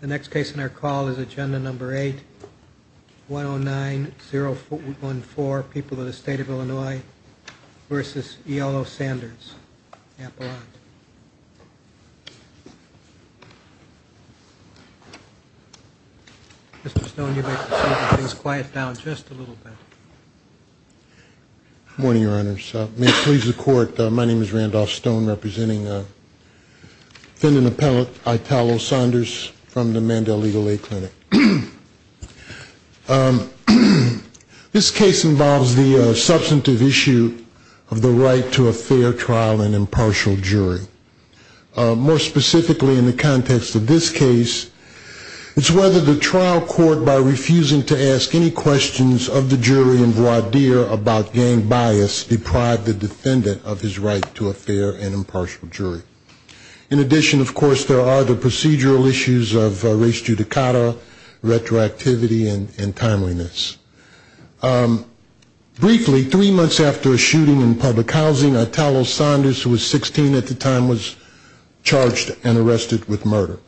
The next case in our call is Agenda No. 8, 109014, People of the State of Illinois v. E. L. O. Sanders, Appellant. Mr. Stone, you may proceed to keep things quiet down just a little bit. Morning, Your Honors. May it please the Court, my name is Randolph Stone, representing Defendant Appellant Italo Sanders from the Mandela Legal Aid Clinic. This case involves the substantive issue of the right to a fair trial in an impartial jury. More specifically in the context of this case, it's whether the trial court, by refusing to ask any questions of the jury and voir dire about gang bias, deprived the judge's right to a fair and impartial jury. In addition, of course, there are the procedural issues of race judicata, retroactivity, and timeliness. Briefly, three months after a shooting in public housing, Italo Sanders, who was 16 at the time, was charged and arrested with murder.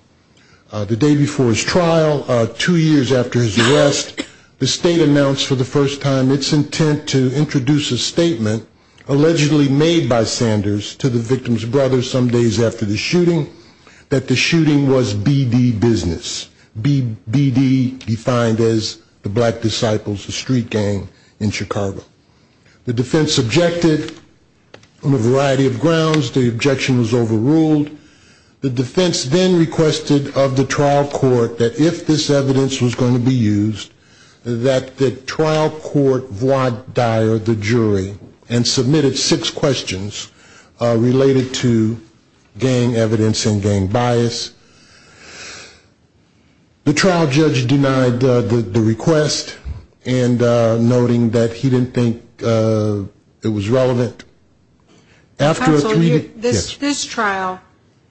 The day before his trial, two years after his arrest, the state announced for the first time its intent to introduce a statement, allegedly made by Sanders to the victim's brother some days after the shooting, that the shooting was BD business. BD defined as the Black Disciples, the street gang in Chicago. The defense objected on a variety of grounds. The objection was overruled. The defense then requested of the trial court that if this evidence was going to be used, that the trial court voir dire the jury and submitted six questions related to gang evidence and gang bias. The trial judge denied the request and noting that he didn't think it was relevant. Counsel, this trial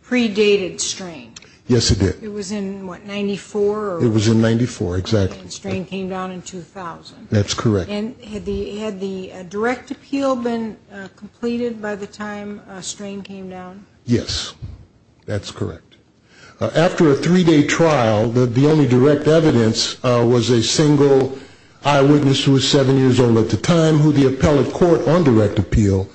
predated Strain. Yes, it did. It was in, what, 94? It was in 94, exactly. And Strain came down in 2000. That's correct. And had the direct appeal been completed by the time Strain came down? Yes, that's correct. After a three-day trial, the only direct evidence was a single eyewitness who was seven years old at the time, who the appellate court on direct appeal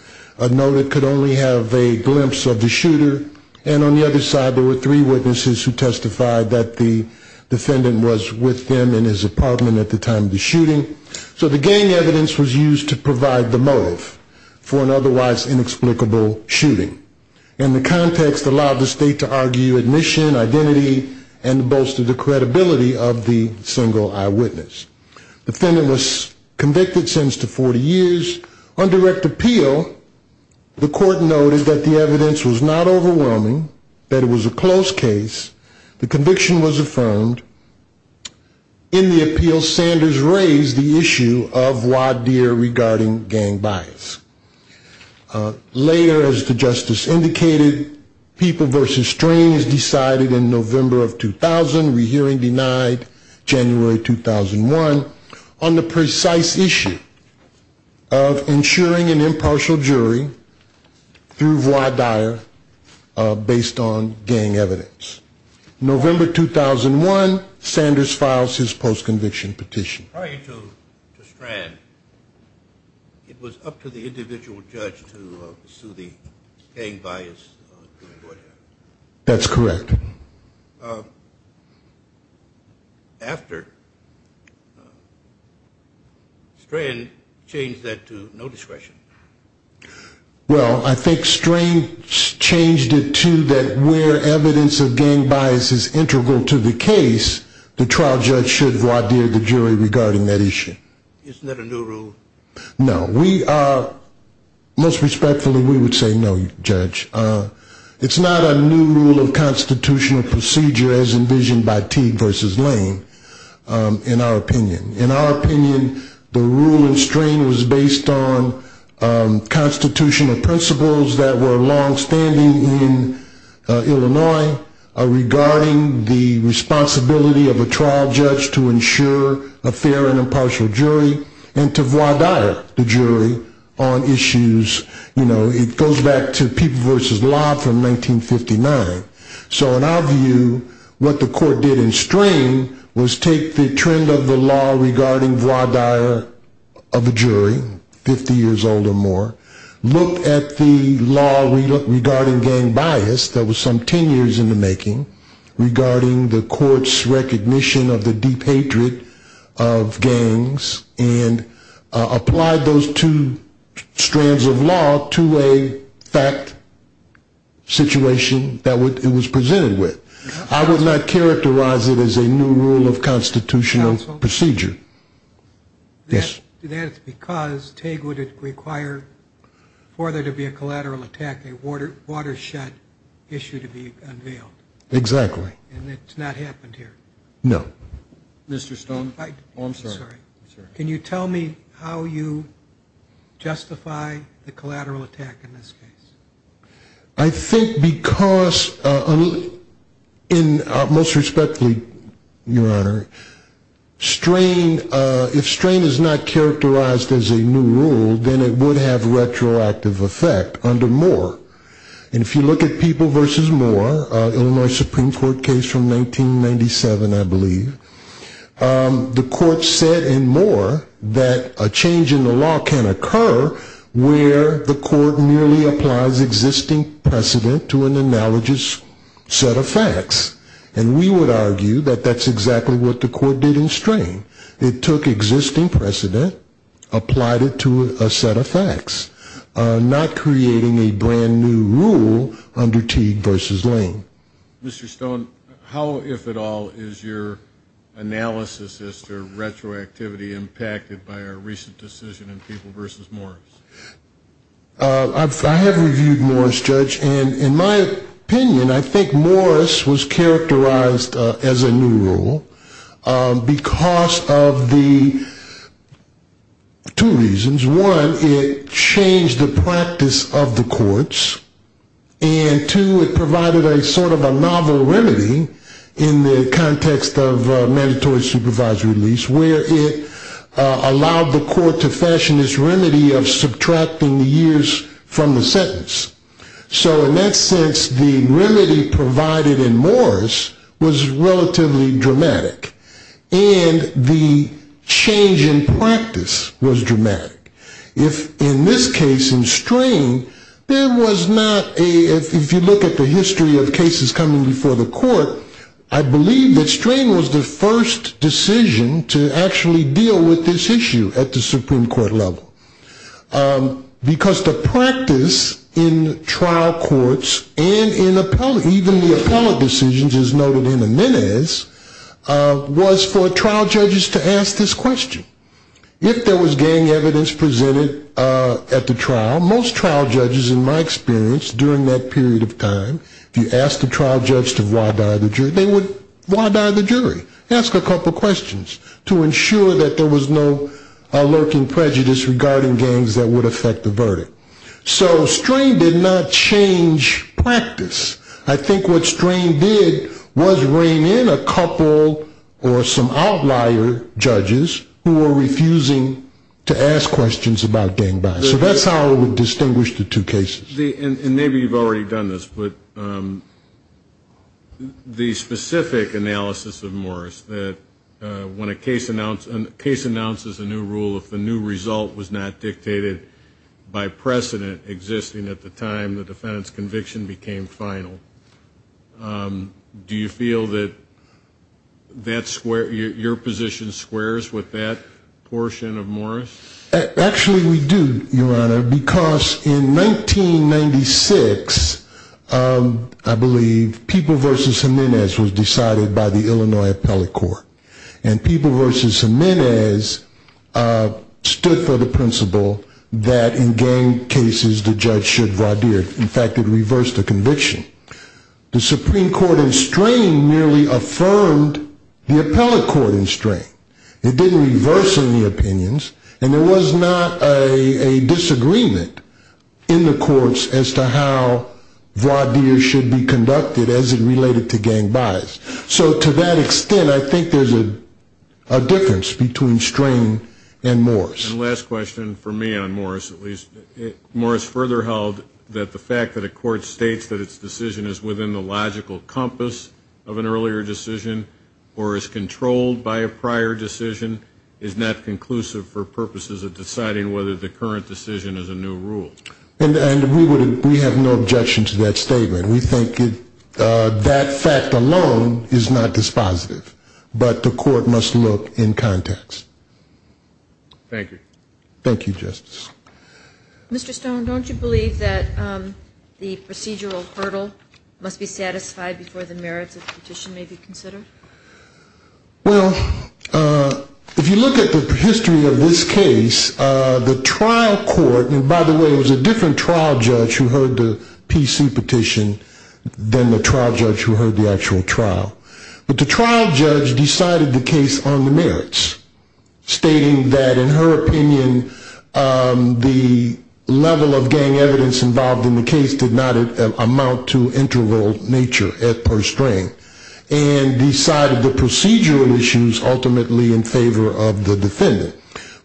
noted could only have a glimpse of the shooter. And on the other side, there were three witnesses who testified that the defendant was with them in his apartment at the time of the shooting. So the gang evidence was used to provide the motive for an otherwise inexplicable shooting. And the context allowed the state to argue admission, identity, and bolster the credibility of the single eyewitness. The defendant was convicted, sentenced to 40 years. On direct appeal, the court noted that the evidence was not overwhelming, that it was a close case. The conviction was affirmed. In the appeal, Sanders raised the issue of Wadeer regarding gang bias. Later, as the justice indicated, People v. Strain is decided in November of 2000, rehearing denied January 2001, on the precise issue of ensuring an impartial jury through Wadeer based on gang evidence. November 2001, Sanders files his post-conviction petition. Prior to Strain, it was up to the individual judge to sue the gang bias. That's correct. After Strain changed that to no discretion. Well, I think Strain changed it to that where evidence of gang bias is integral to the case, the trial judge should Wadeer the jury regarding that issue. Isn't that a new rule? No. Most respectfully, we would say no, Judge. It's not a new rule of constitutional procedure as envisioned by Teague v. Lane, in our opinion. In our opinion, the rule in Strain was based on constitutional principles that were longstanding in Illinois regarding the responsibility of a trial judge to ensure a fair and impartial jury and to Wadeer the jury on issues. It goes back to People v. Law from 1959. So in our view, what the court did in Strain was take the trend of the law regarding Wadeer of a jury, 50 years old or more, look at the law regarding gang bias that was some 10 years in the making regarding the court's recognition of the deep hatred of gangs and applied those two strands of law to a fact situation that it was presented with. I would not characterize it as a new rule of constitutional procedure. That's because Teague would require for there to be a collateral attack, a watershed issue to be unveiled. Exactly. And it's not happened here. No. Mr. Stone? Oh, I'm sorry. Can you tell me how you justify the collateral attack in this case? I think because most respectfully, Your Honor, if Strain is not characterized as a new rule, then it would have retroactive effect under Moore. And if you look at People v. Moore, an Illinois Supreme Court case from 1997, I believe, the court said in Moore that a change in the law can occur where the court merely applies existing precedent to an analogous set of facts. And we would argue that that's exactly what the court did in Strain. It took existing precedent, applied it to a set of facts, not creating a brand-new rule under Teague v. Lane. Mr. Stone, how, if at all, is your analysis as to retroactivity impacted by our recent decision in People v. Morris? I have reviewed Morris, Judge. And in my opinion, I think Morris was characterized as a new rule because of the two reasons. One, it changed the practice of the courts. And two, it provided a sort of a novel remedy in the context of mandatory supervisory release, where it allowed the court to fashion this remedy of subtracting the years from the sentence. So in that sense, the remedy provided in Morris was relatively dramatic. And the change in practice was dramatic. In this case, in Strain, there was not a, if you look at the history of cases coming before the court, I believe that Strain was the first decision to actually deal with this issue at the Supreme Court level. Because the practice in trial courts and in appellate, even the appellate decisions, as noted in the minutes, was for trial judges to ask this question. If there was gang evidence presented at the trial, most trial judges, in my experience, during that period of time, if you asked a trial judge to why die the jury, they would why die the jury, ask a couple questions, to ensure that there was no lurking prejudice regarding gangs that would affect the verdict. So Strain did not change practice. I think what Strain did was bring in a couple or some outlier judges who were refusing to ask questions about gang violence. So that's how it would distinguish the two cases. And maybe you've already done this, but the specific analysis of Morris that when a case announces a new rule, if the new result was not dictated by precedent existing at the time the defendant's conviction became final, do you feel that your position squares with that portion of Morris? Actually, we do, Your Honor, because in 1996, I believe, People v. Jimenez was decided by the Illinois Appellate Court. And People v. Jimenez stood for the principle that in gang cases the judge should voir dire. In fact, it reversed the conviction. The Supreme Court in Strain merely affirmed the appellate court in Strain. It didn't reverse any opinions. And there was not a disagreement in the courts as to how voir dire should be conducted as it related to gang bias. So to that extent, I think there's a difference between Strain and Morris. And last question for me on Morris, at least. Morris further held that the fact that a court states that its decision is within the logical compass of an earlier decision or is controlled by a prior decision is not conclusive for purposes of deciding whether the current decision is a new rule. And we have no objection to that statement. We think that fact alone is not dispositive, but the court must look in context. Thank you. Thank you, Justice. Mr. Stone, don't you believe that the procedural hurdle must be satisfied before the merits of the petition may be considered? Well, if you look at the history of this case, the trial court, and by the way, it was a different trial judge who heard the PC petition than the trial judge who heard the actual trial. But the trial judge decided the case on the merits, stating that, in her opinion, the level of gang evidence involved in the case did not amount to integral nature at first strain, and decided the procedural issues ultimately in favor of the defendant.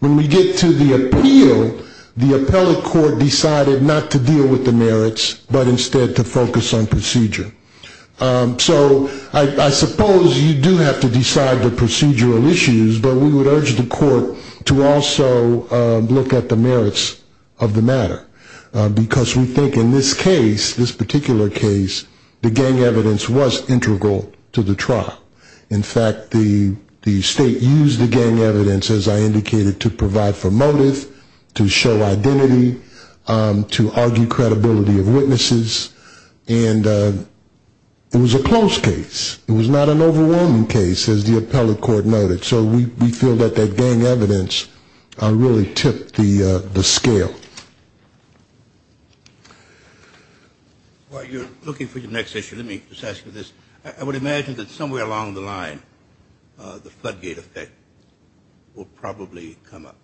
When we get to the appeal, the appellate court decided not to deal with the merits but instead to focus on procedure. So I suppose you do have to decide the procedural issues, but we would urge the court to also look at the merits of the matter, because we think in this case, this particular case, the gang evidence was integral to the trial. In fact, the state used the gang evidence, as I indicated, to provide for motive, to show identity, to argue credibility of witnesses, and it was a close case. It was not an overwhelming case, as the appellate court noted. So we feel that that gang evidence really tipped the scale. While you're looking for your next issue, let me just ask you this. I would imagine that somewhere along the line the floodgate effect will probably come up.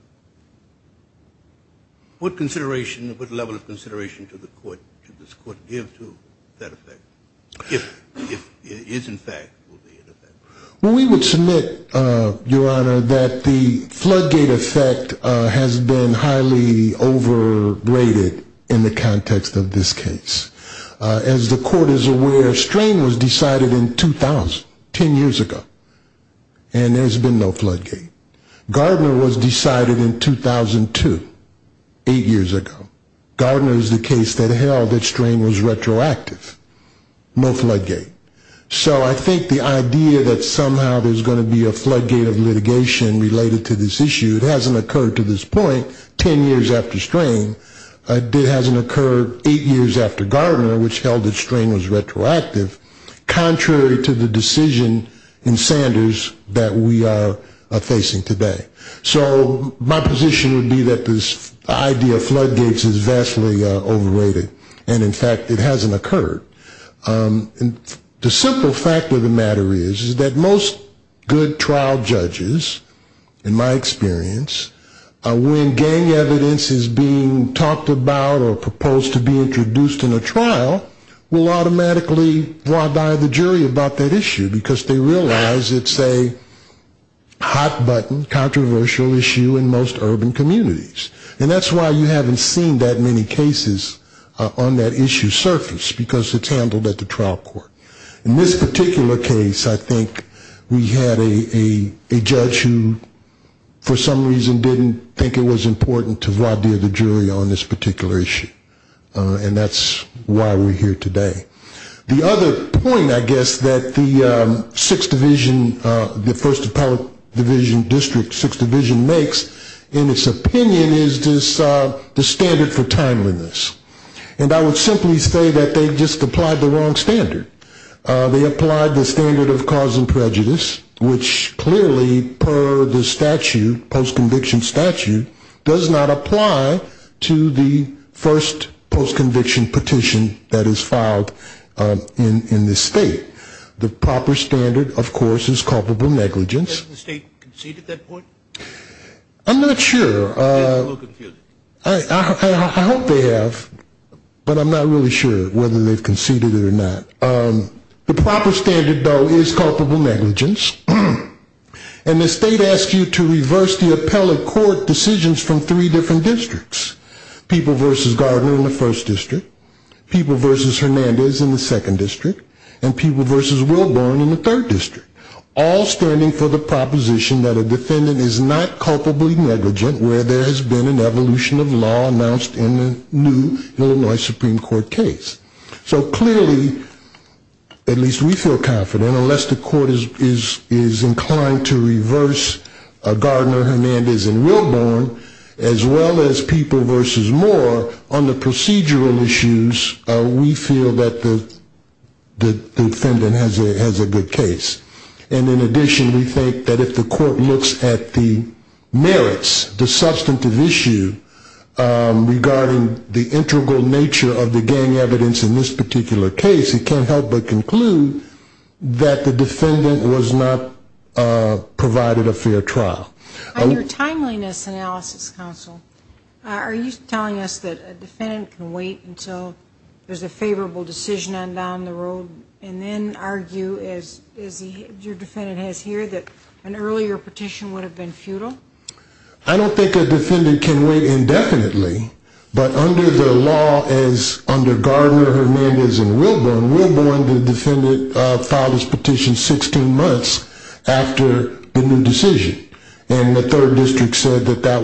What consideration, what level of consideration to the court, to this court, give to that effect? If it is, in fact, will be an effect? Well, we would submit, Your Honor, that the floodgate effect has been highly overrated in the context of this case. As the court is aware, strain was decided in 2000, 10 years ago, and there's been no floodgate. Gardner was decided in 2002, eight years ago. Gardner is the case that held that strain was retroactive, no floodgate. So I think the idea that somehow there's going to be a floodgate of litigation related to this issue, it hasn't occurred to this point, 10 years after strain. It hasn't occurred eight years after Gardner, which held that strain was retroactive, contrary to the decision in Sanders that we are facing today. So my position would be that this idea of floodgates is vastly overrated. And, in fact, it hasn't occurred. The simple fact of the matter is that most good trial judges, in my experience, when gang evidence is being talked about or proposed to be introduced in a trial, will automatically draw by the jury about that issue, because they realize it's a hot button, controversial issue in most urban communities. And that's why you haven't seen that many cases on that issue surface, because it's handled at the trial court. In this particular case, I think we had a judge who, for some reason, didn't think it was important to void the other jury on this particular issue. And that's why we're here today. The other point, I guess, that the Sixth Division, the First Appellate Division District, Sixth Division makes, in its opinion, is the standard for timeliness. And I would simply say that they just applied the wrong standard. They applied the standard of cause and prejudice, which clearly, per the statute, post-conviction statute, does not apply to the first post-conviction petition that is filed in this state. The proper standard, of course, is culpable negligence. Has the state conceded that point? I'm not sure. I hope they have, but I'm not really sure whether they've conceded it or not. The proper standard, though, is culpable negligence. And the state asks you to reverse the appellate court decisions from three different districts, people versus Gardner in the first district, people versus Hernandez in the second district, and people versus Wilburn in the third district, all standing for the proposition that a defendant is not culpably negligent, where there has been an evolution of law announced in the new Illinois Supreme Court case. So clearly, at least we feel confident, unless the court is inclined to reverse Gardner, Hernandez, and Wilburn, as well as people versus Moore, on the procedural issues, we feel that the defendant has a good case. And in addition, we think that if the court looks at the merits, the substantive issue, regarding the integral nature of the gang evidence in this particular case, it can't help but conclude that the defendant was not provided a fair trial. On your timeliness analysis, counsel, are you telling us that a defendant can wait until there's a favorable decision on down the road and then argue, as your defendant has here, that an earlier petition would have been futile? I don't think a defendant can wait indefinitely. But under the law as under Gardner, Hernandez, and Wilburn, the defendant filed his petition 16 months after the new decision. And the third district said that that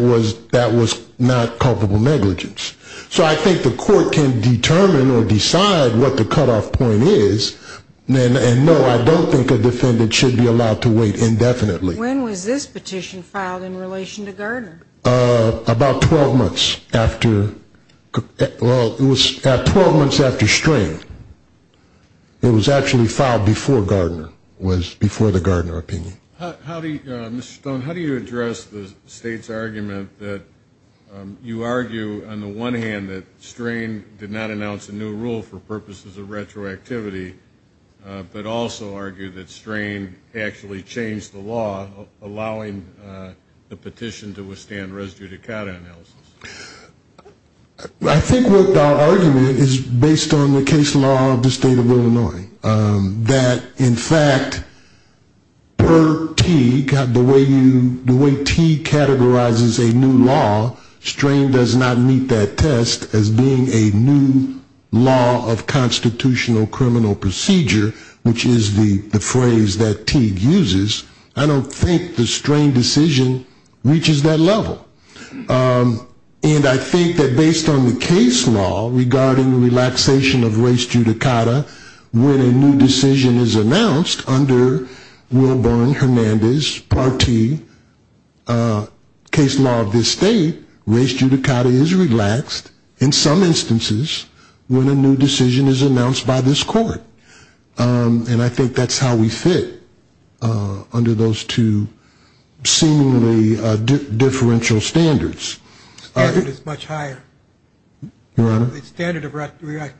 was not culpable negligence. So I think the court can determine or decide what the cutoff point is. And no, I don't think a defendant should be allowed to wait indefinitely. About 12 months after, well, it was 12 months after Strain. It was actually filed before Gardner, was before the Gardner opinion. Mr. Stone, how do you address the State's argument that you argue, on the one hand, that Strain did not announce a new rule for purposes of retroactivity, but also argue that Strain actually changed the law, allowing the petition to withstand res judicata analysis? I think what our argument is based on the case law of the State of Illinois, that, in fact, per T, the way T categorizes a new law, Strain does not meet that test as being a new law of constitutional criminal procedure, which is the phrase that Teague uses. I don't think the Strain decision reaches that level. And I think that based on the case law regarding relaxation of res judicata, in this part T case law of this State, res judicata is relaxed in some instances when a new decision is announced by this court. And I think that's how we fit under those two seemingly differential standards. The standard is much higher. Your Honor? The standard of retroactivity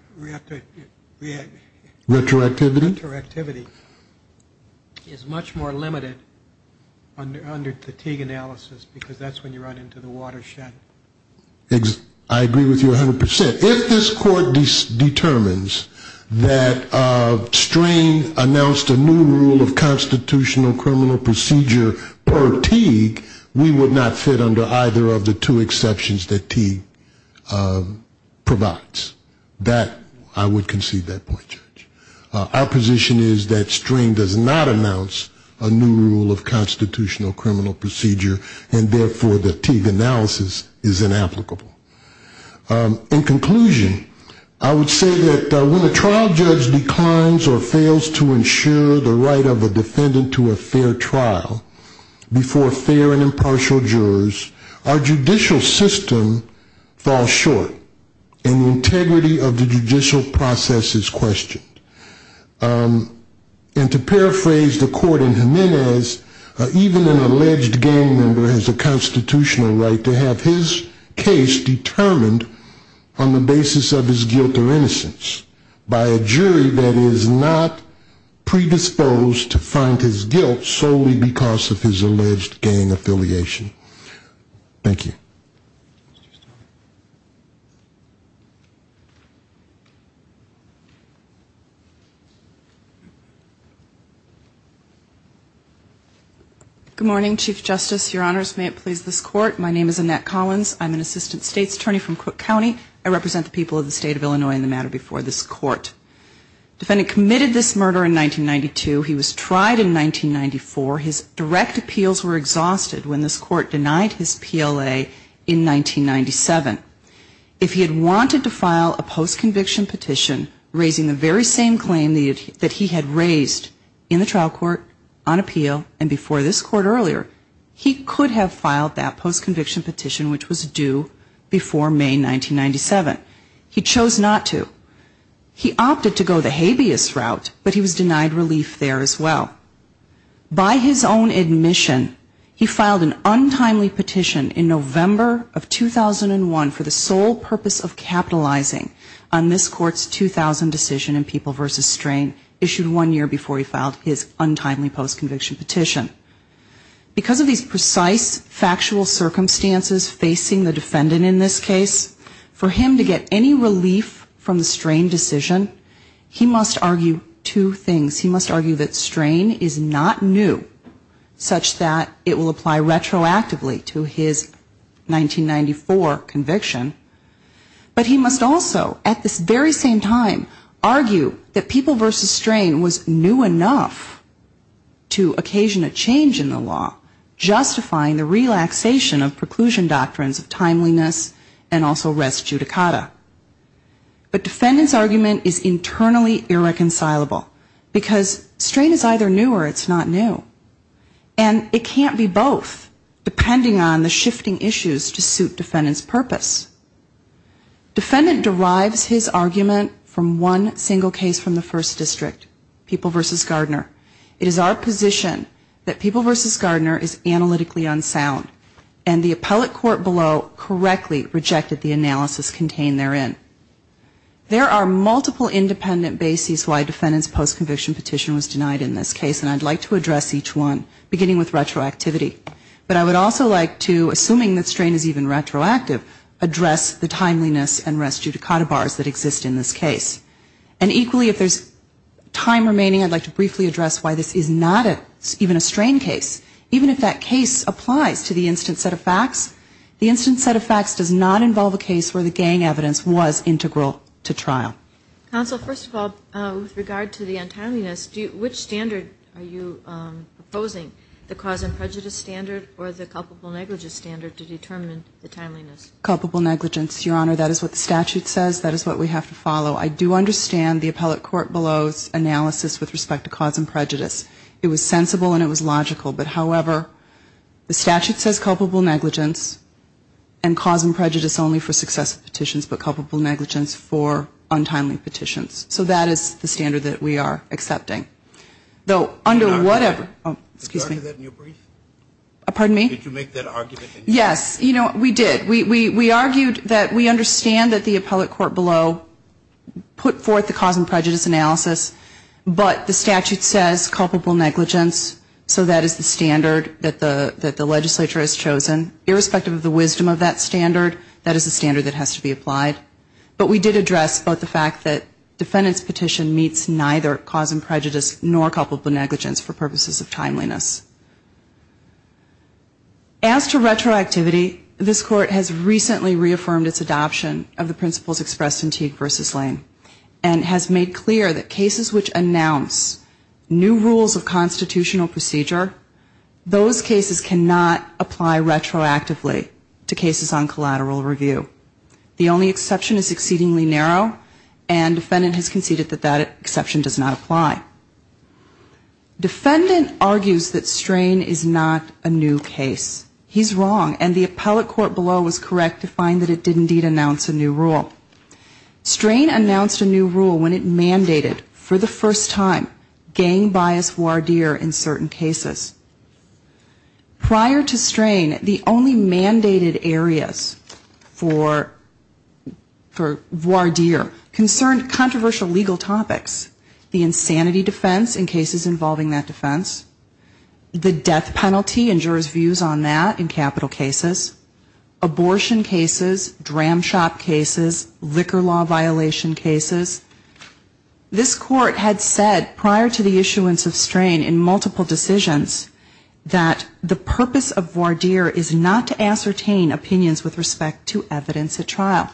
is much more limited. Under the Teague analysis, because that's when you run into the watershed. I agree with you 100%. If this court determines that Strain announced a new rule of constitutional criminal procedure per Teague, we would not fit under either of the two exceptions that Teague provides. That, I would concede that point, Judge. Our position is that Strain does not announce a new rule of constitutional criminal procedure, and therefore the Teague analysis is inapplicable. In conclusion, I would say that when a trial judge declines or fails to ensure the right of a defendant to a fair trial before fair and impartial jurors, our judicial system falls short and the integrity of the judicial process is questioned. And to paraphrase the court in Jimenez, even an alleged gang member has a constitutional right to have his case determined on the basis of his guilt or innocence by a jury that is not predisposed to find his guilt solely because of his alleged gang affiliation. Thank you. Good morning, Chief Justice. Your Honors, may it please this Court, my name is Annette Collins. I'm an Assistant State's Attorney from Cook County. I represent the people of the State of Illinois in the matter before this Court. Defendant committed this murder in 1992. He was tried in 1994. His direct appeals were exhausted when this Court denied his PLA in 1997. If he had wanted to file a postconviction petition raising the very same claim that he had raised in the trial court on appeal and before this Court earlier, he could have filed that postconviction petition, which was due before May 1997. He chose not to. He opted to go the habeas route, but he was denied relief there as well. By his own admission, he filed an untimely petition in November of 2001 for the sole purpose of capitalizing on this Court's 2000 decision in People v. Strain issued one year before he filed his untimely postconviction petition. Because of these precise factual circumstances facing the defendant in this case, for him to get any relief from the Strain decision, he must argue two things. He must argue that Strain is not new, such that it will apply retroactively to his 1994 conviction. But he must also at this very same time argue that People v. Strain was new enough to occasion a change in the law, justifying the relaxation of preclusion doctrines of timeliness and also res judicata. But defendant's argument is internally irreconcilable, because Strain is either new or it's not new. And it can't be both, depending on the shifting issues to suit defendant's purpose. Defendant derives his argument from one single case from the first district, People v. Gardner. It is our position that People v. Gardner is analytically unsound, and the appellate court below correctly rejected the analysis contained therein. There are multiple independent bases why defendant's postconviction petition was denied in this case, and I'd like to address each one, beginning with retroactivity. But I would also like to, assuming that Strain is even retroactive, address the timeliness and res judicata bars that exist in this case. And equally, if there's time remaining, I'd like to briefly address why this is not even a Strain case, even if that case applies to the instant set of facts. The instant set of facts does not involve a case where the gang evidence was integral to trial. Counsel, first of all, with regard to the untimeliness, which standard are you opposing, the cause and prejudice standard or the culpable negligence standard to determine the timeliness? Culpable negligence, Your Honor. That is what the statute says. That is what we have to follow. I do understand the appellate court below's analysis with respect to cause and prejudice. It was sensible and it was logical. But, however, the statute says culpable negligence and cause and prejudice only for successive petitions, but culpable negligence for untimely petitions. So that is the standard that we are accepting. Though, under whatever. Did you argue that in your brief? Pardon me? Did you make that argument in your brief? Yes. You know, we did. We argued that we understand that the appellate court below put forth the cause and prejudice analysis, but the statute says culpable negligence. So that is the standard that the legislature has chosen. Irrespective of the wisdom of that standard, that is the standard that has to be applied. But we did address both the fact that defendant's petition meets neither cause and prejudice nor culpable negligence for purposes of timeliness. As to retroactivity, this court has recently reaffirmed its adoption of the principles expressed in Teague v. Lane and has made clear that cases which announce new rules of constitutional procedure, those cases cannot apply retroactively to cases on collateral review. The only exception is exceedingly narrow, and defendant has conceded that that exception does not apply. Defendant argues that strain is not a new case. He's wrong, and the appellate court below was correct to find that it did indeed announce a new rule. Strain announced a new rule when it mandated for the first time gang bias voir dire in certain cases. Prior to strain, the only mandated areas for voir dire concerned controversial legal topics. The insanity defense in cases involving that defense, the death penalty and jurors' views on that in capital cases, abortion cases, dram shop cases, liquor law violation cases. This court had said prior to the issuance of strain in multiple decisions that the purpose of voir dire is not to ascertain opinions with respect to evidence at trial.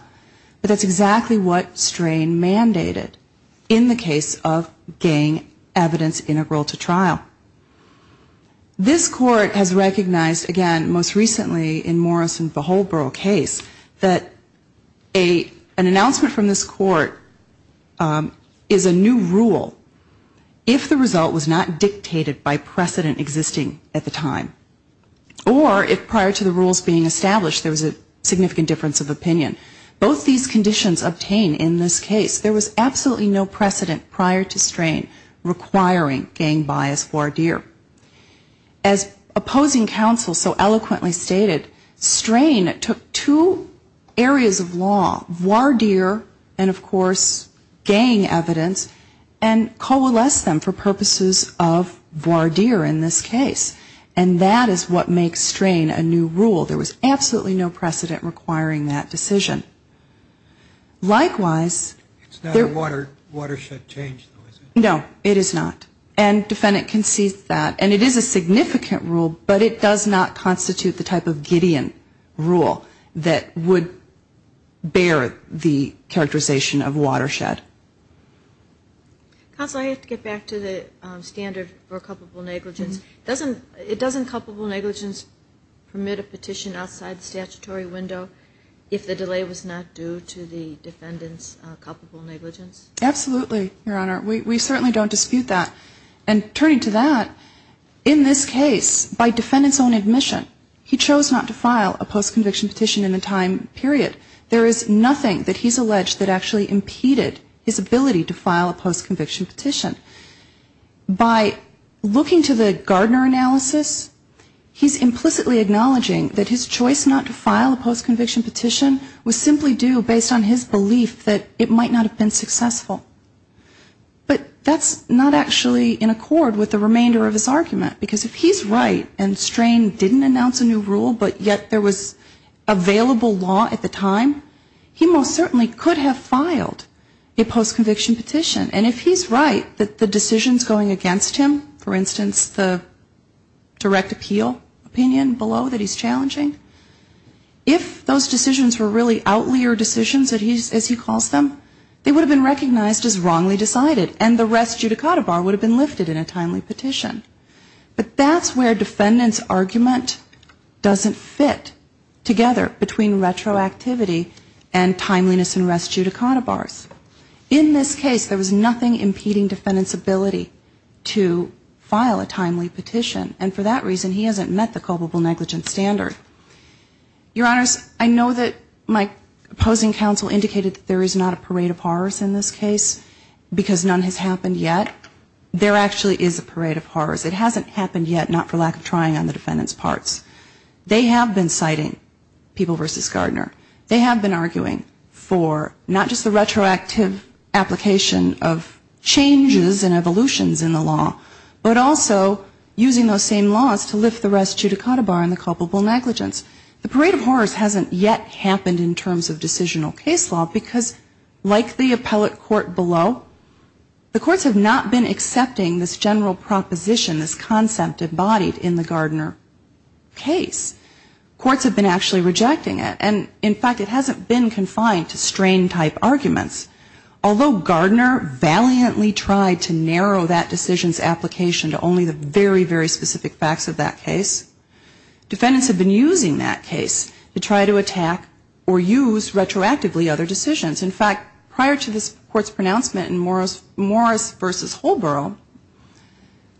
But that's exactly what strain mandated in the case of gang evidence integral to trial. This court has recognized, again, most recently in Morrison v. Holbrook case, that an announcement from this court is a new rule if the result was not dictated by precedent existing at the time. Or if prior to the rules being established there was a significant difference of opinion. Both these conditions obtained in this case, there was absolutely no precedent prior to strain requiring gang bias voir dire. As opposing counsel so eloquently stated, strain took two areas of law, voir dire and, of course, gang evidence, and coalesced them for purposes of voir dire in this case. And that is what makes strain a new rule. There was absolutely no precedent requiring that decision. Likewise, there was no watershed change. No, it is not. And defendant concedes that. And it is a significant rule, but it does not constitute the type of Gideon rule that would bear the characterization of watershed. Counsel, I have to get back to the standard for culpable negligence. Doesn't culpable negligence permit a petition outside the statutory window if the delay was not due to the defendant's culpable negligence? Absolutely, Your Honor. We certainly don't dispute that. And turning to that, in this case, by defendant's own admission, he chose not to file a postconviction petition in the time period. There is nothing that he's alleged that actually impeded his ability to file a postconviction petition. By looking to the Gardner analysis, he's implicitly acknowledging that his choice not to file a postconviction petition was simply due based on his belief that it might not have been successful. But that's not actually in accord with the remainder of his argument. Because if he's right and strain didn't announce a new rule, but yet there was available law at the time, he most certainly could have filed a postconviction petition. But if he's right and strain didn't announce a new rule, but yet there was available law at the time, he most certainly could have filed a postconviction petition. But that's where defendant's argument doesn't fit together between retroactivity and timeliness and res judicata bars. In this case, there was nothing impeding defendant's ability to file a timely petition. And for that reason, he hasn't met the culpable negligence standard. Your Honors, I know that my opposing counsel indicated that there is not a parade of horrors in this case, because none has happened yet. There actually is a parade of horrors. It hasn't happened yet, not for lack of trying on the defendant's parts. They have been citing people versus Gardner. They have been arguing for not just the retroactive application of changes and evolutions in the law, but also using those same laws to lift the res judicata bar and the culpable negligence. The parade of horrors hasn't yet happened in terms of decisional case law, because like the appellate court below, the courts have not been rejecting that case. Courts have been actually rejecting it. And in fact, it hasn't been confined to strain type arguments. Although Gardner valiantly tried to narrow that decision's application to only the very, very specific facts of that case, defendants have been using that case to try to attack or use retroactively other decisions. In fact, prior to this court's pronouncement in Morris v. Holborough,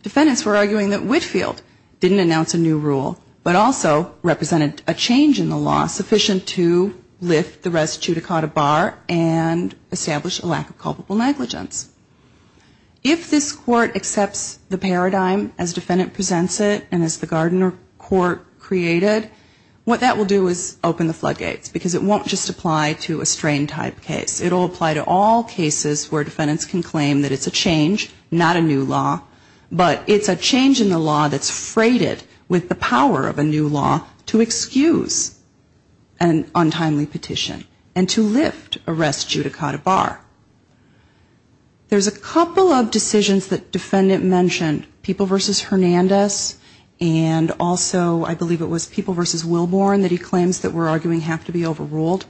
defendants were arguing that Whitfield didn't announce a new rule, but also represented a change in the law sufficient to lift the res judicata bar and establish a lack of culpable negligence. If this court accepts the paradigm as defendant presents it and as the Gardner court created, what that will do is open the floodgates, because it won't just apply to a strain type case. It will apply to all cases where defendants can claim that it's a change, not a new law, but it's a change in the law that's freighted with the power of a new law to excuse an untimely petition and to lift a res judicata bar. There's a couple of decisions that defendant mentioned, People v. Hernandez, and also I believe it was People v. Wilborne that he claims that we're arguing have to be overruled.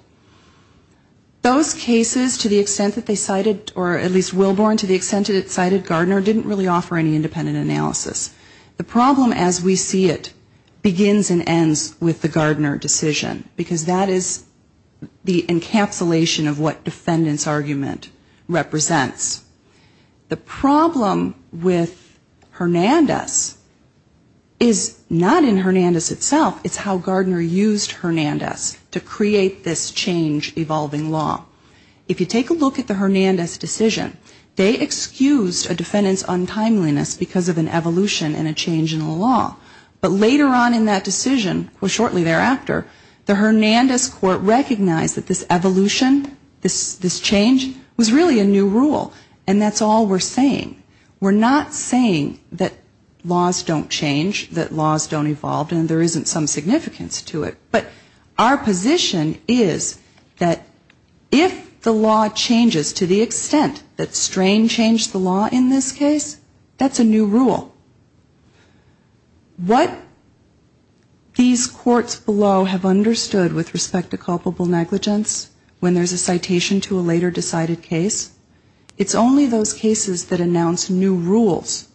Those cases, to the extent that they cited, or at least Wilborne, to the extent that it cited Gardner, didn't really offer any independent analysis. The problem as we see it begins and ends with the Gardner decision, because that is the encapsulation of what defendants argument represents. The problem with Hernandez is not in Hernandez itself, it's how Gardner used Hernandez to create this change evolving law. If you take a look at the Hernandez decision, they excused a defendant's untimeliness because of an evolution and a change in the law. But later on in that decision, or shortly thereafter, the Hernandez court recognized that this evolution, this change, was really a new rule. And that's all we're saying. We're not saying that laws don't change, that laws don't evolve, and there isn't some significance to it. But our position is that if the law changes to the extent that Strain changed the law in this case, that's a new rule. What these courts below have understood with respect to culpable negligence, when there's a citation to a later decided case, is it's only those cases that announce new rules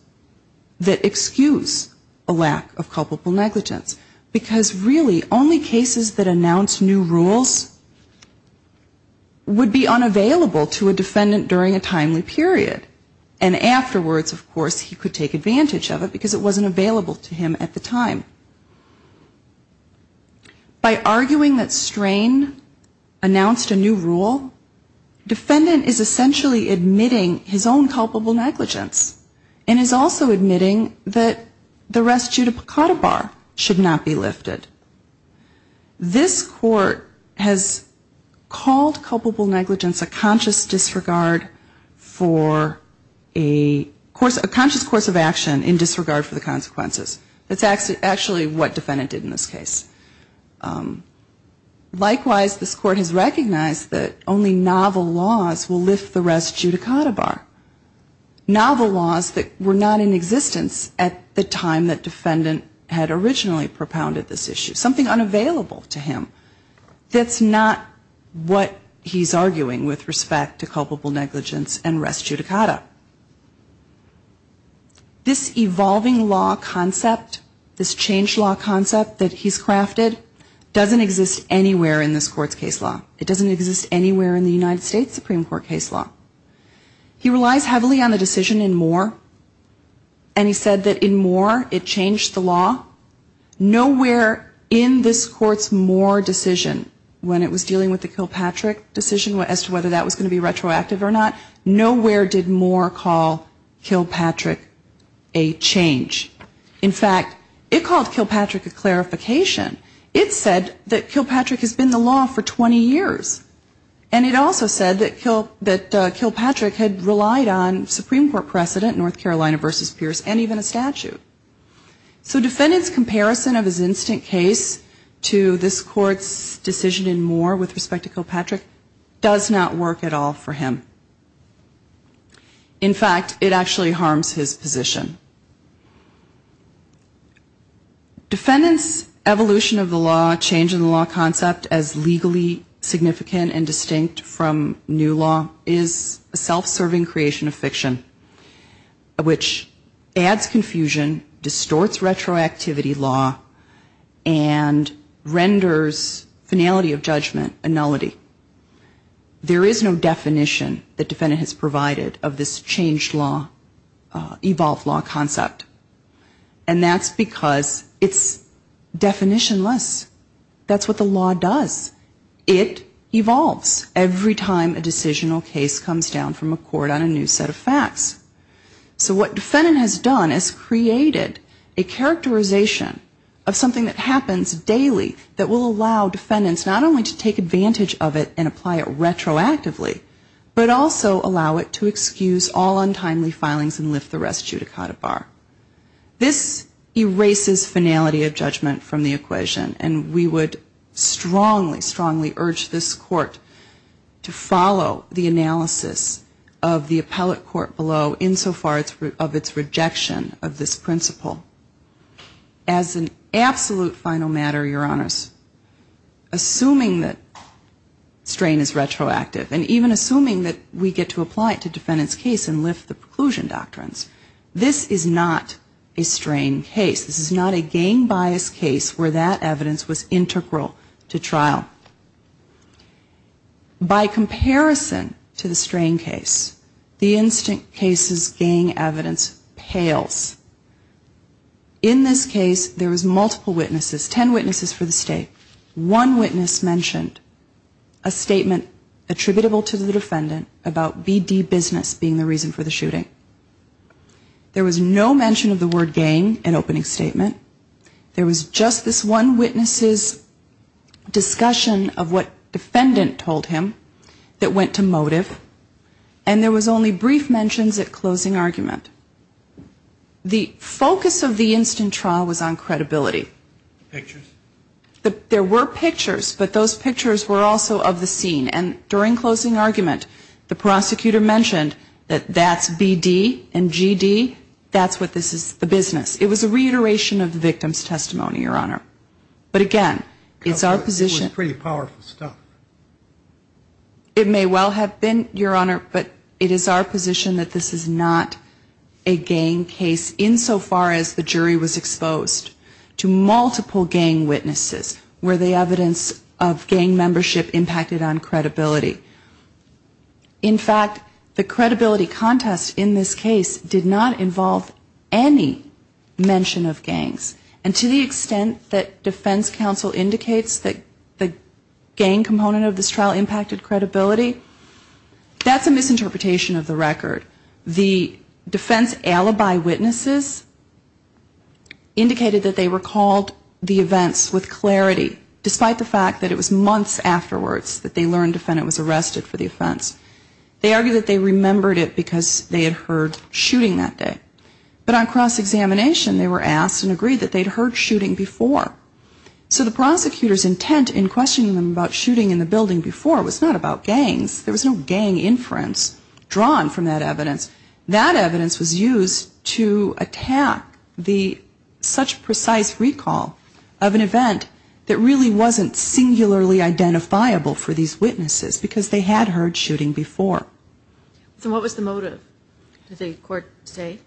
that excuse a lack of culpable negligence. Because really, only cases that announce new rules would be unavailable to a defendant during a timely period. And afterwards, of course, he could take advantage of it, because it wasn't available to him at the time. By arguing that Strain announced a new rule, defendant is essentially admitting his own culpable negligence and is also admitting that the rest judicata bar should not be lifted. This court has called culpable negligence a conscious disregard for a conscious course of action in disregard for the consequences. That's actually what defendant did in this case. Likewise, this court has recognized that only novel laws will lift the rest judicata bar. Novel laws that were not in existence at the time that defendant had originally propounded this issue. Something unavailable to him. That's not what he's arguing with respect to culpable negligence and rest judicata. This evolving law concept, this changed law concept that he's crafted, doesn't exist anywhere in this court's case law. It doesn't exist anywhere in the United States Supreme Court case law. He relies heavily on the decision in Moore, and he said that in Moore it changed the law. Nowhere in this court's Moore decision when it was dealing with the Kilpatrick decision as to whether that was going to be retroactive or not, nowhere did Moore's Moore decision in Moore call Kilpatrick a change. In fact, it called Kilpatrick a clarification. It said that Kilpatrick has been the law for 20 years. And it also said that Kilpatrick had relied on Supreme Court precedent, North Carolina versus Pierce, and even a statute. So defendant's comparison of his instant case to this court's decision in Moore with respect to Kilpatrick does not work at all for him. In fact, it actually harms his position. Defendant's evolution of the law, change in the law concept as legally significant and distinct from new law is a self-serving creation of fiction, which adds confusion, distorts retroactivity law, and renders finality of judgment a nullity. There is no definition that defendant has provided of this changed law, evolved law concept. And that's because it's definitionless. That's what the law does. It evolves every time a decisional case comes down from a court on a new set of facts. So what defendant has done is created a characterization of something that happens daily that will allow defendants not only to take advantage of it and apply it retroactively, but also allow it to excuse all untimely filings and lift the rest judicata bar. This erases finality of judgment from the equation, and we would strongly, strongly urge this court to follow the analysis of the appellate court below insofar of its rejection of this principle. As an absolute final matter, Your Honors, assuming that strain is retroactive, and even assuming that we get to apply it to defendant's case and lift the preclusion doctrines, this is not a strain case. This is not a gang bias case where that evidence was integral to trial. By comparison to the strain case, the instant cases gang evidence pales. In this case, there was multiple witnesses, ten witnesses for the state. One witness mentioned a statement attributable to the defendant about BD business being the reason for the shooting. There was no mention of the word gang in opening statement. There was just this one witness's discussion of what defendant told him that went to motive. And there was only brief mentions at closing argument. The rest of the instant trial was on credibility. There were pictures, but those pictures were also of the scene. And during closing argument, the prosecutor mentioned that that's BD and GD, that's what this is, the business. It was a reiteration of the victim's testimony, Your Honor. But again, it's our position. It may well have been, Your Honor, but it is our position that this is not a gang case insofar as the jury was exposed to multiple gang witnesses where the evidence of gang membership impacted on credibility. In fact, the credibility contest in this case did not involve any mention of gangs. And to the extent that defense counsel indicates that the gang component of this trial impacted credibility, that's a misinterpretation of the record. The defense alibi witnesses indicated that they recalled the events with clarity, despite the fact that it was months afterwards that they learned the defendant was arrested for the offense. They argued that they remembered it because they had heard shooting that day. But on cross-examination, they were asked and agreed that they'd heard shooting before. So the prosecutor's intent in questioning them about shooting in the building before was not about gangs. There was no gang inference drawn from that evidence. That evidence was used to attack the such precise recall of an event that really wasn't singularly identifiable for these witnesses, because they had heard shooting before. So what was the motive, did the court say?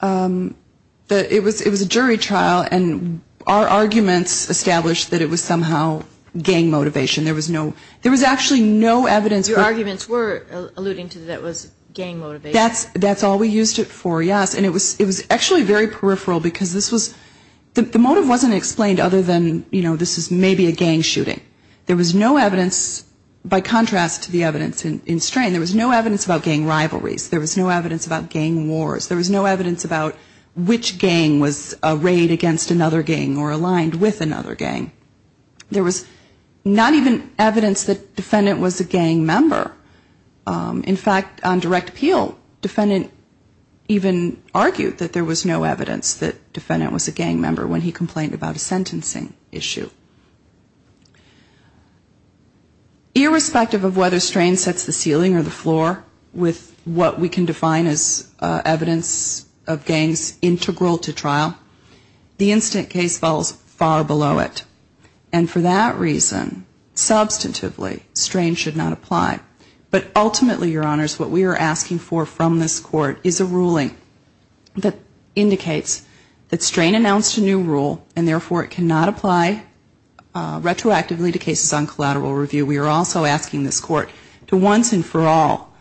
It was a jury trial, and our arguments established that it was somehow gang motivation. There was no, there was actually no evidence. Your arguments were alluding to that it was gang motivation. That's all we used it for, yes. And it was actually very peripheral, because this was, the motive wasn't explained other than, you know, this is maybe a gang shooting. There was no evidence, by contrast to the evidence in Strain, there was no evidence about gang rivalries. There was no evidence about gang wars. There was no evidence about which gang was arrayed against another gang or aligned with another gang. There was not even evidence that defendant was a gang member. In fact, on direct appeal, defendant even argued that there was no evidence that defendant was a gang member when he complained about a sentencing issue. Irrespective of whether Strain sets the ceiling or the floor with what we can define as evidence of gangs integral to trial, the instant case falls far below it. And for that reason, substantively, Strain should not apply. But ultimately, Your Honors, what we are asking for from this court is a ruling that indicates that Strain announced a new rule, and therefore, it cannot apply retroactively to court. And in addition to cases on collateral review, we are also asking this court to once and for all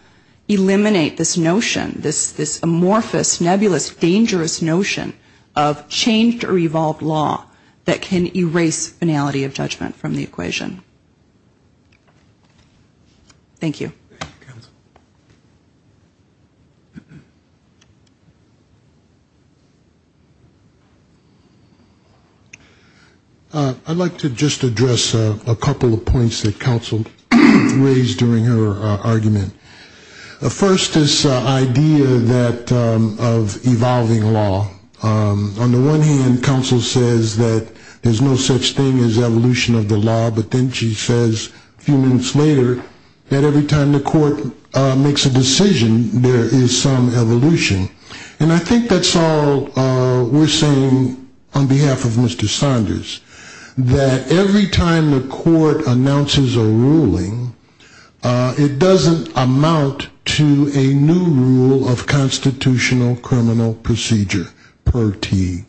eliminate this notion, this amorphous, nebulous, dangerous notion of changed or evolved law that can erase finality of judgment from the equation. Thank you. Thank you, counsel. I'd like to just address a couple of points that counsel raised during her argument. First, this idea that of evolving law. On the one hand, counsel says that there's no such thing as evolution of the law, but then she says a few minutes later that every time there's an evolution of the law, and every time the court makes a decision, there is some evolution. And I think that's all we're saying on behalf of Mr. Saunders, that every time the court announces a ruling, it doesn't amount to a new rule of constitutional criminal procedure, per tee.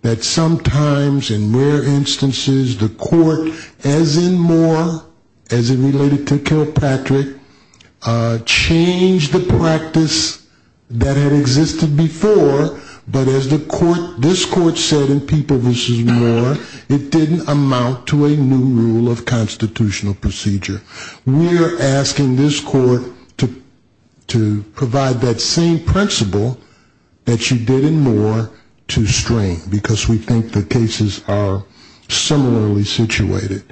That sometimes, in rare instances, the court, as in Moore, as in related to Kilpatrick, has a new rule of constitutional criminal procedure, per tee. It doesn't change the practice that had existed before, but as this court said in People v. Moore, it didn't amount to a new rule of constitutional procedure. We're asking this court to provide that same principle that she did in Moore to String, because we think the cases are similarly situated.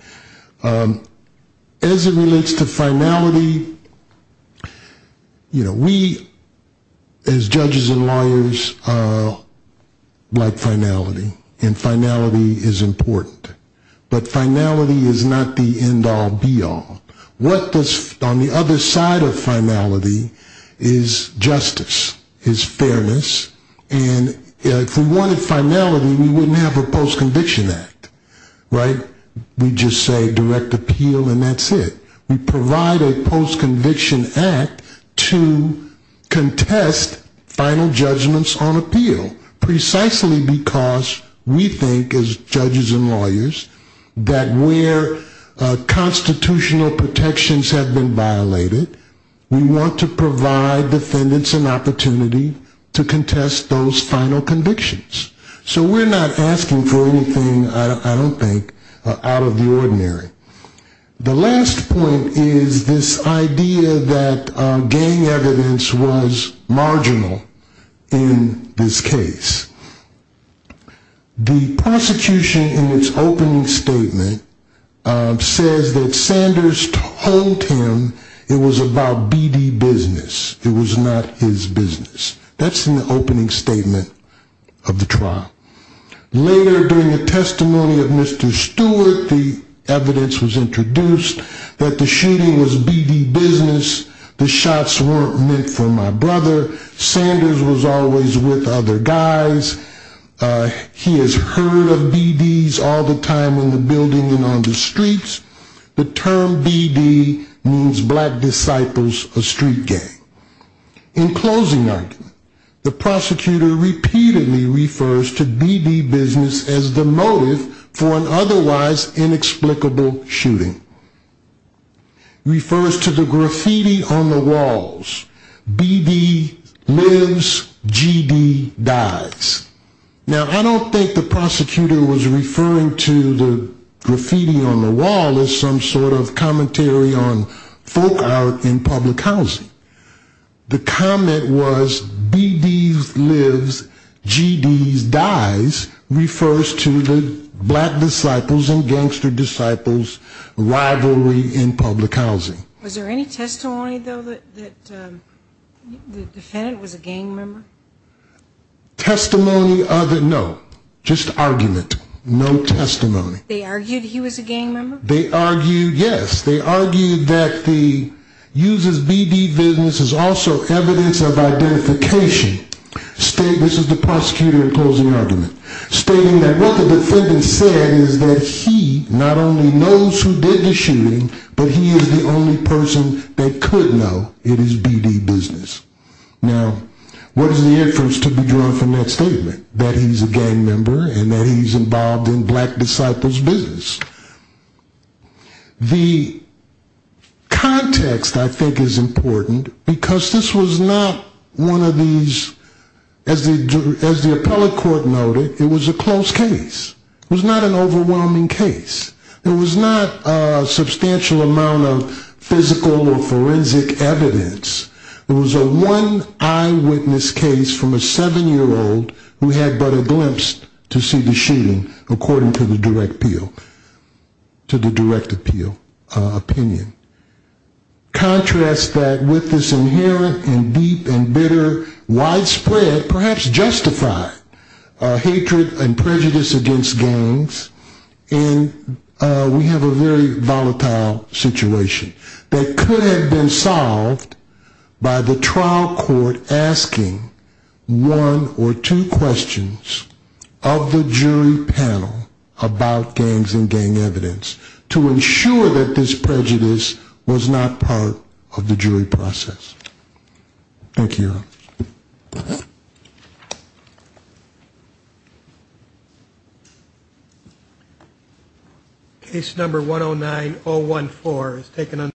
As it relates to finality, we as judges and lawyers like finality, and finality is important. But finality is not the end all, be all. On the other side of finality is justice, is fairness, and if we wanted finality, we wouldn't have a Post-Conviction Act. We just say direct appeal and that's it. We provide a Post-Conviction Act to contest final judgments on appeal, precisely because we think, as judges and lawyers, that where constitutional protections have been violated, we want to provide defendants an opportunity to contest those final convictions. So we're not asking for anything, I don't think, out of the ordinary. The last point is this idea that gang evidence was marginal in this case. The prosecution in its opening statement says that Sanders told him it was about BD business, it was not his business. That's in the opening statement of the trial. Later, during the testimony of Mr. Stewart, the evidence was introduced that the shooting was BD business, the shots weren't meant for my brother, Sanders was always with other guys, he has heard of BDs all the time in the building and on the streets. The term BD means Black Disciples of Street Gang. In closing argument, the prosecutor repeatedly refers to BD business as the motive for an otherwise inexplicable shooting. He refers to the graffiti on the walls, BD lives, GD dies. Now, I don't think the prosecutor was referring to the graffiti on the wall as some sort of commentary on folk art in public housing. The comment was BDs lives, GDs dies refers to the Black Disciples and Gangster Disciples rivalry in public housing. Was there any testimony, though, that the defendant was a gang member? Testimony of the, no. Just argument. No testimony. They argued he was a gang member? BD business is also evidence of identification. This is the prosecutor in closing argument, stating that what the defendant said is that he not only knows who did the shooting, but he is the only person that could know it is BD business. Now, what is the inference to be drawn from that statement? That he's a gang member and that he's involved in Black Disciples business? The context, I think, is important because this was not one of these, as the appellate court noted, it was a close case. It was not an overwhelming case. It was not a substantial amount of physical or forensic evidence. It was a one eyewitness case from a seven-year-old who had but a glimpse to see the shooting, according to the direct appeal. Contrast that with this inherent and deep and bitter widespread, perhaps justified, hatred and prejudice against gangs, and we have a very volatile situation. That could have been solved by the trial court asking one or two questions of the jury panel about gangs in the United States. And by utilizing gang evidence to ensure that this prejudice was not part of the jury process. Thank you.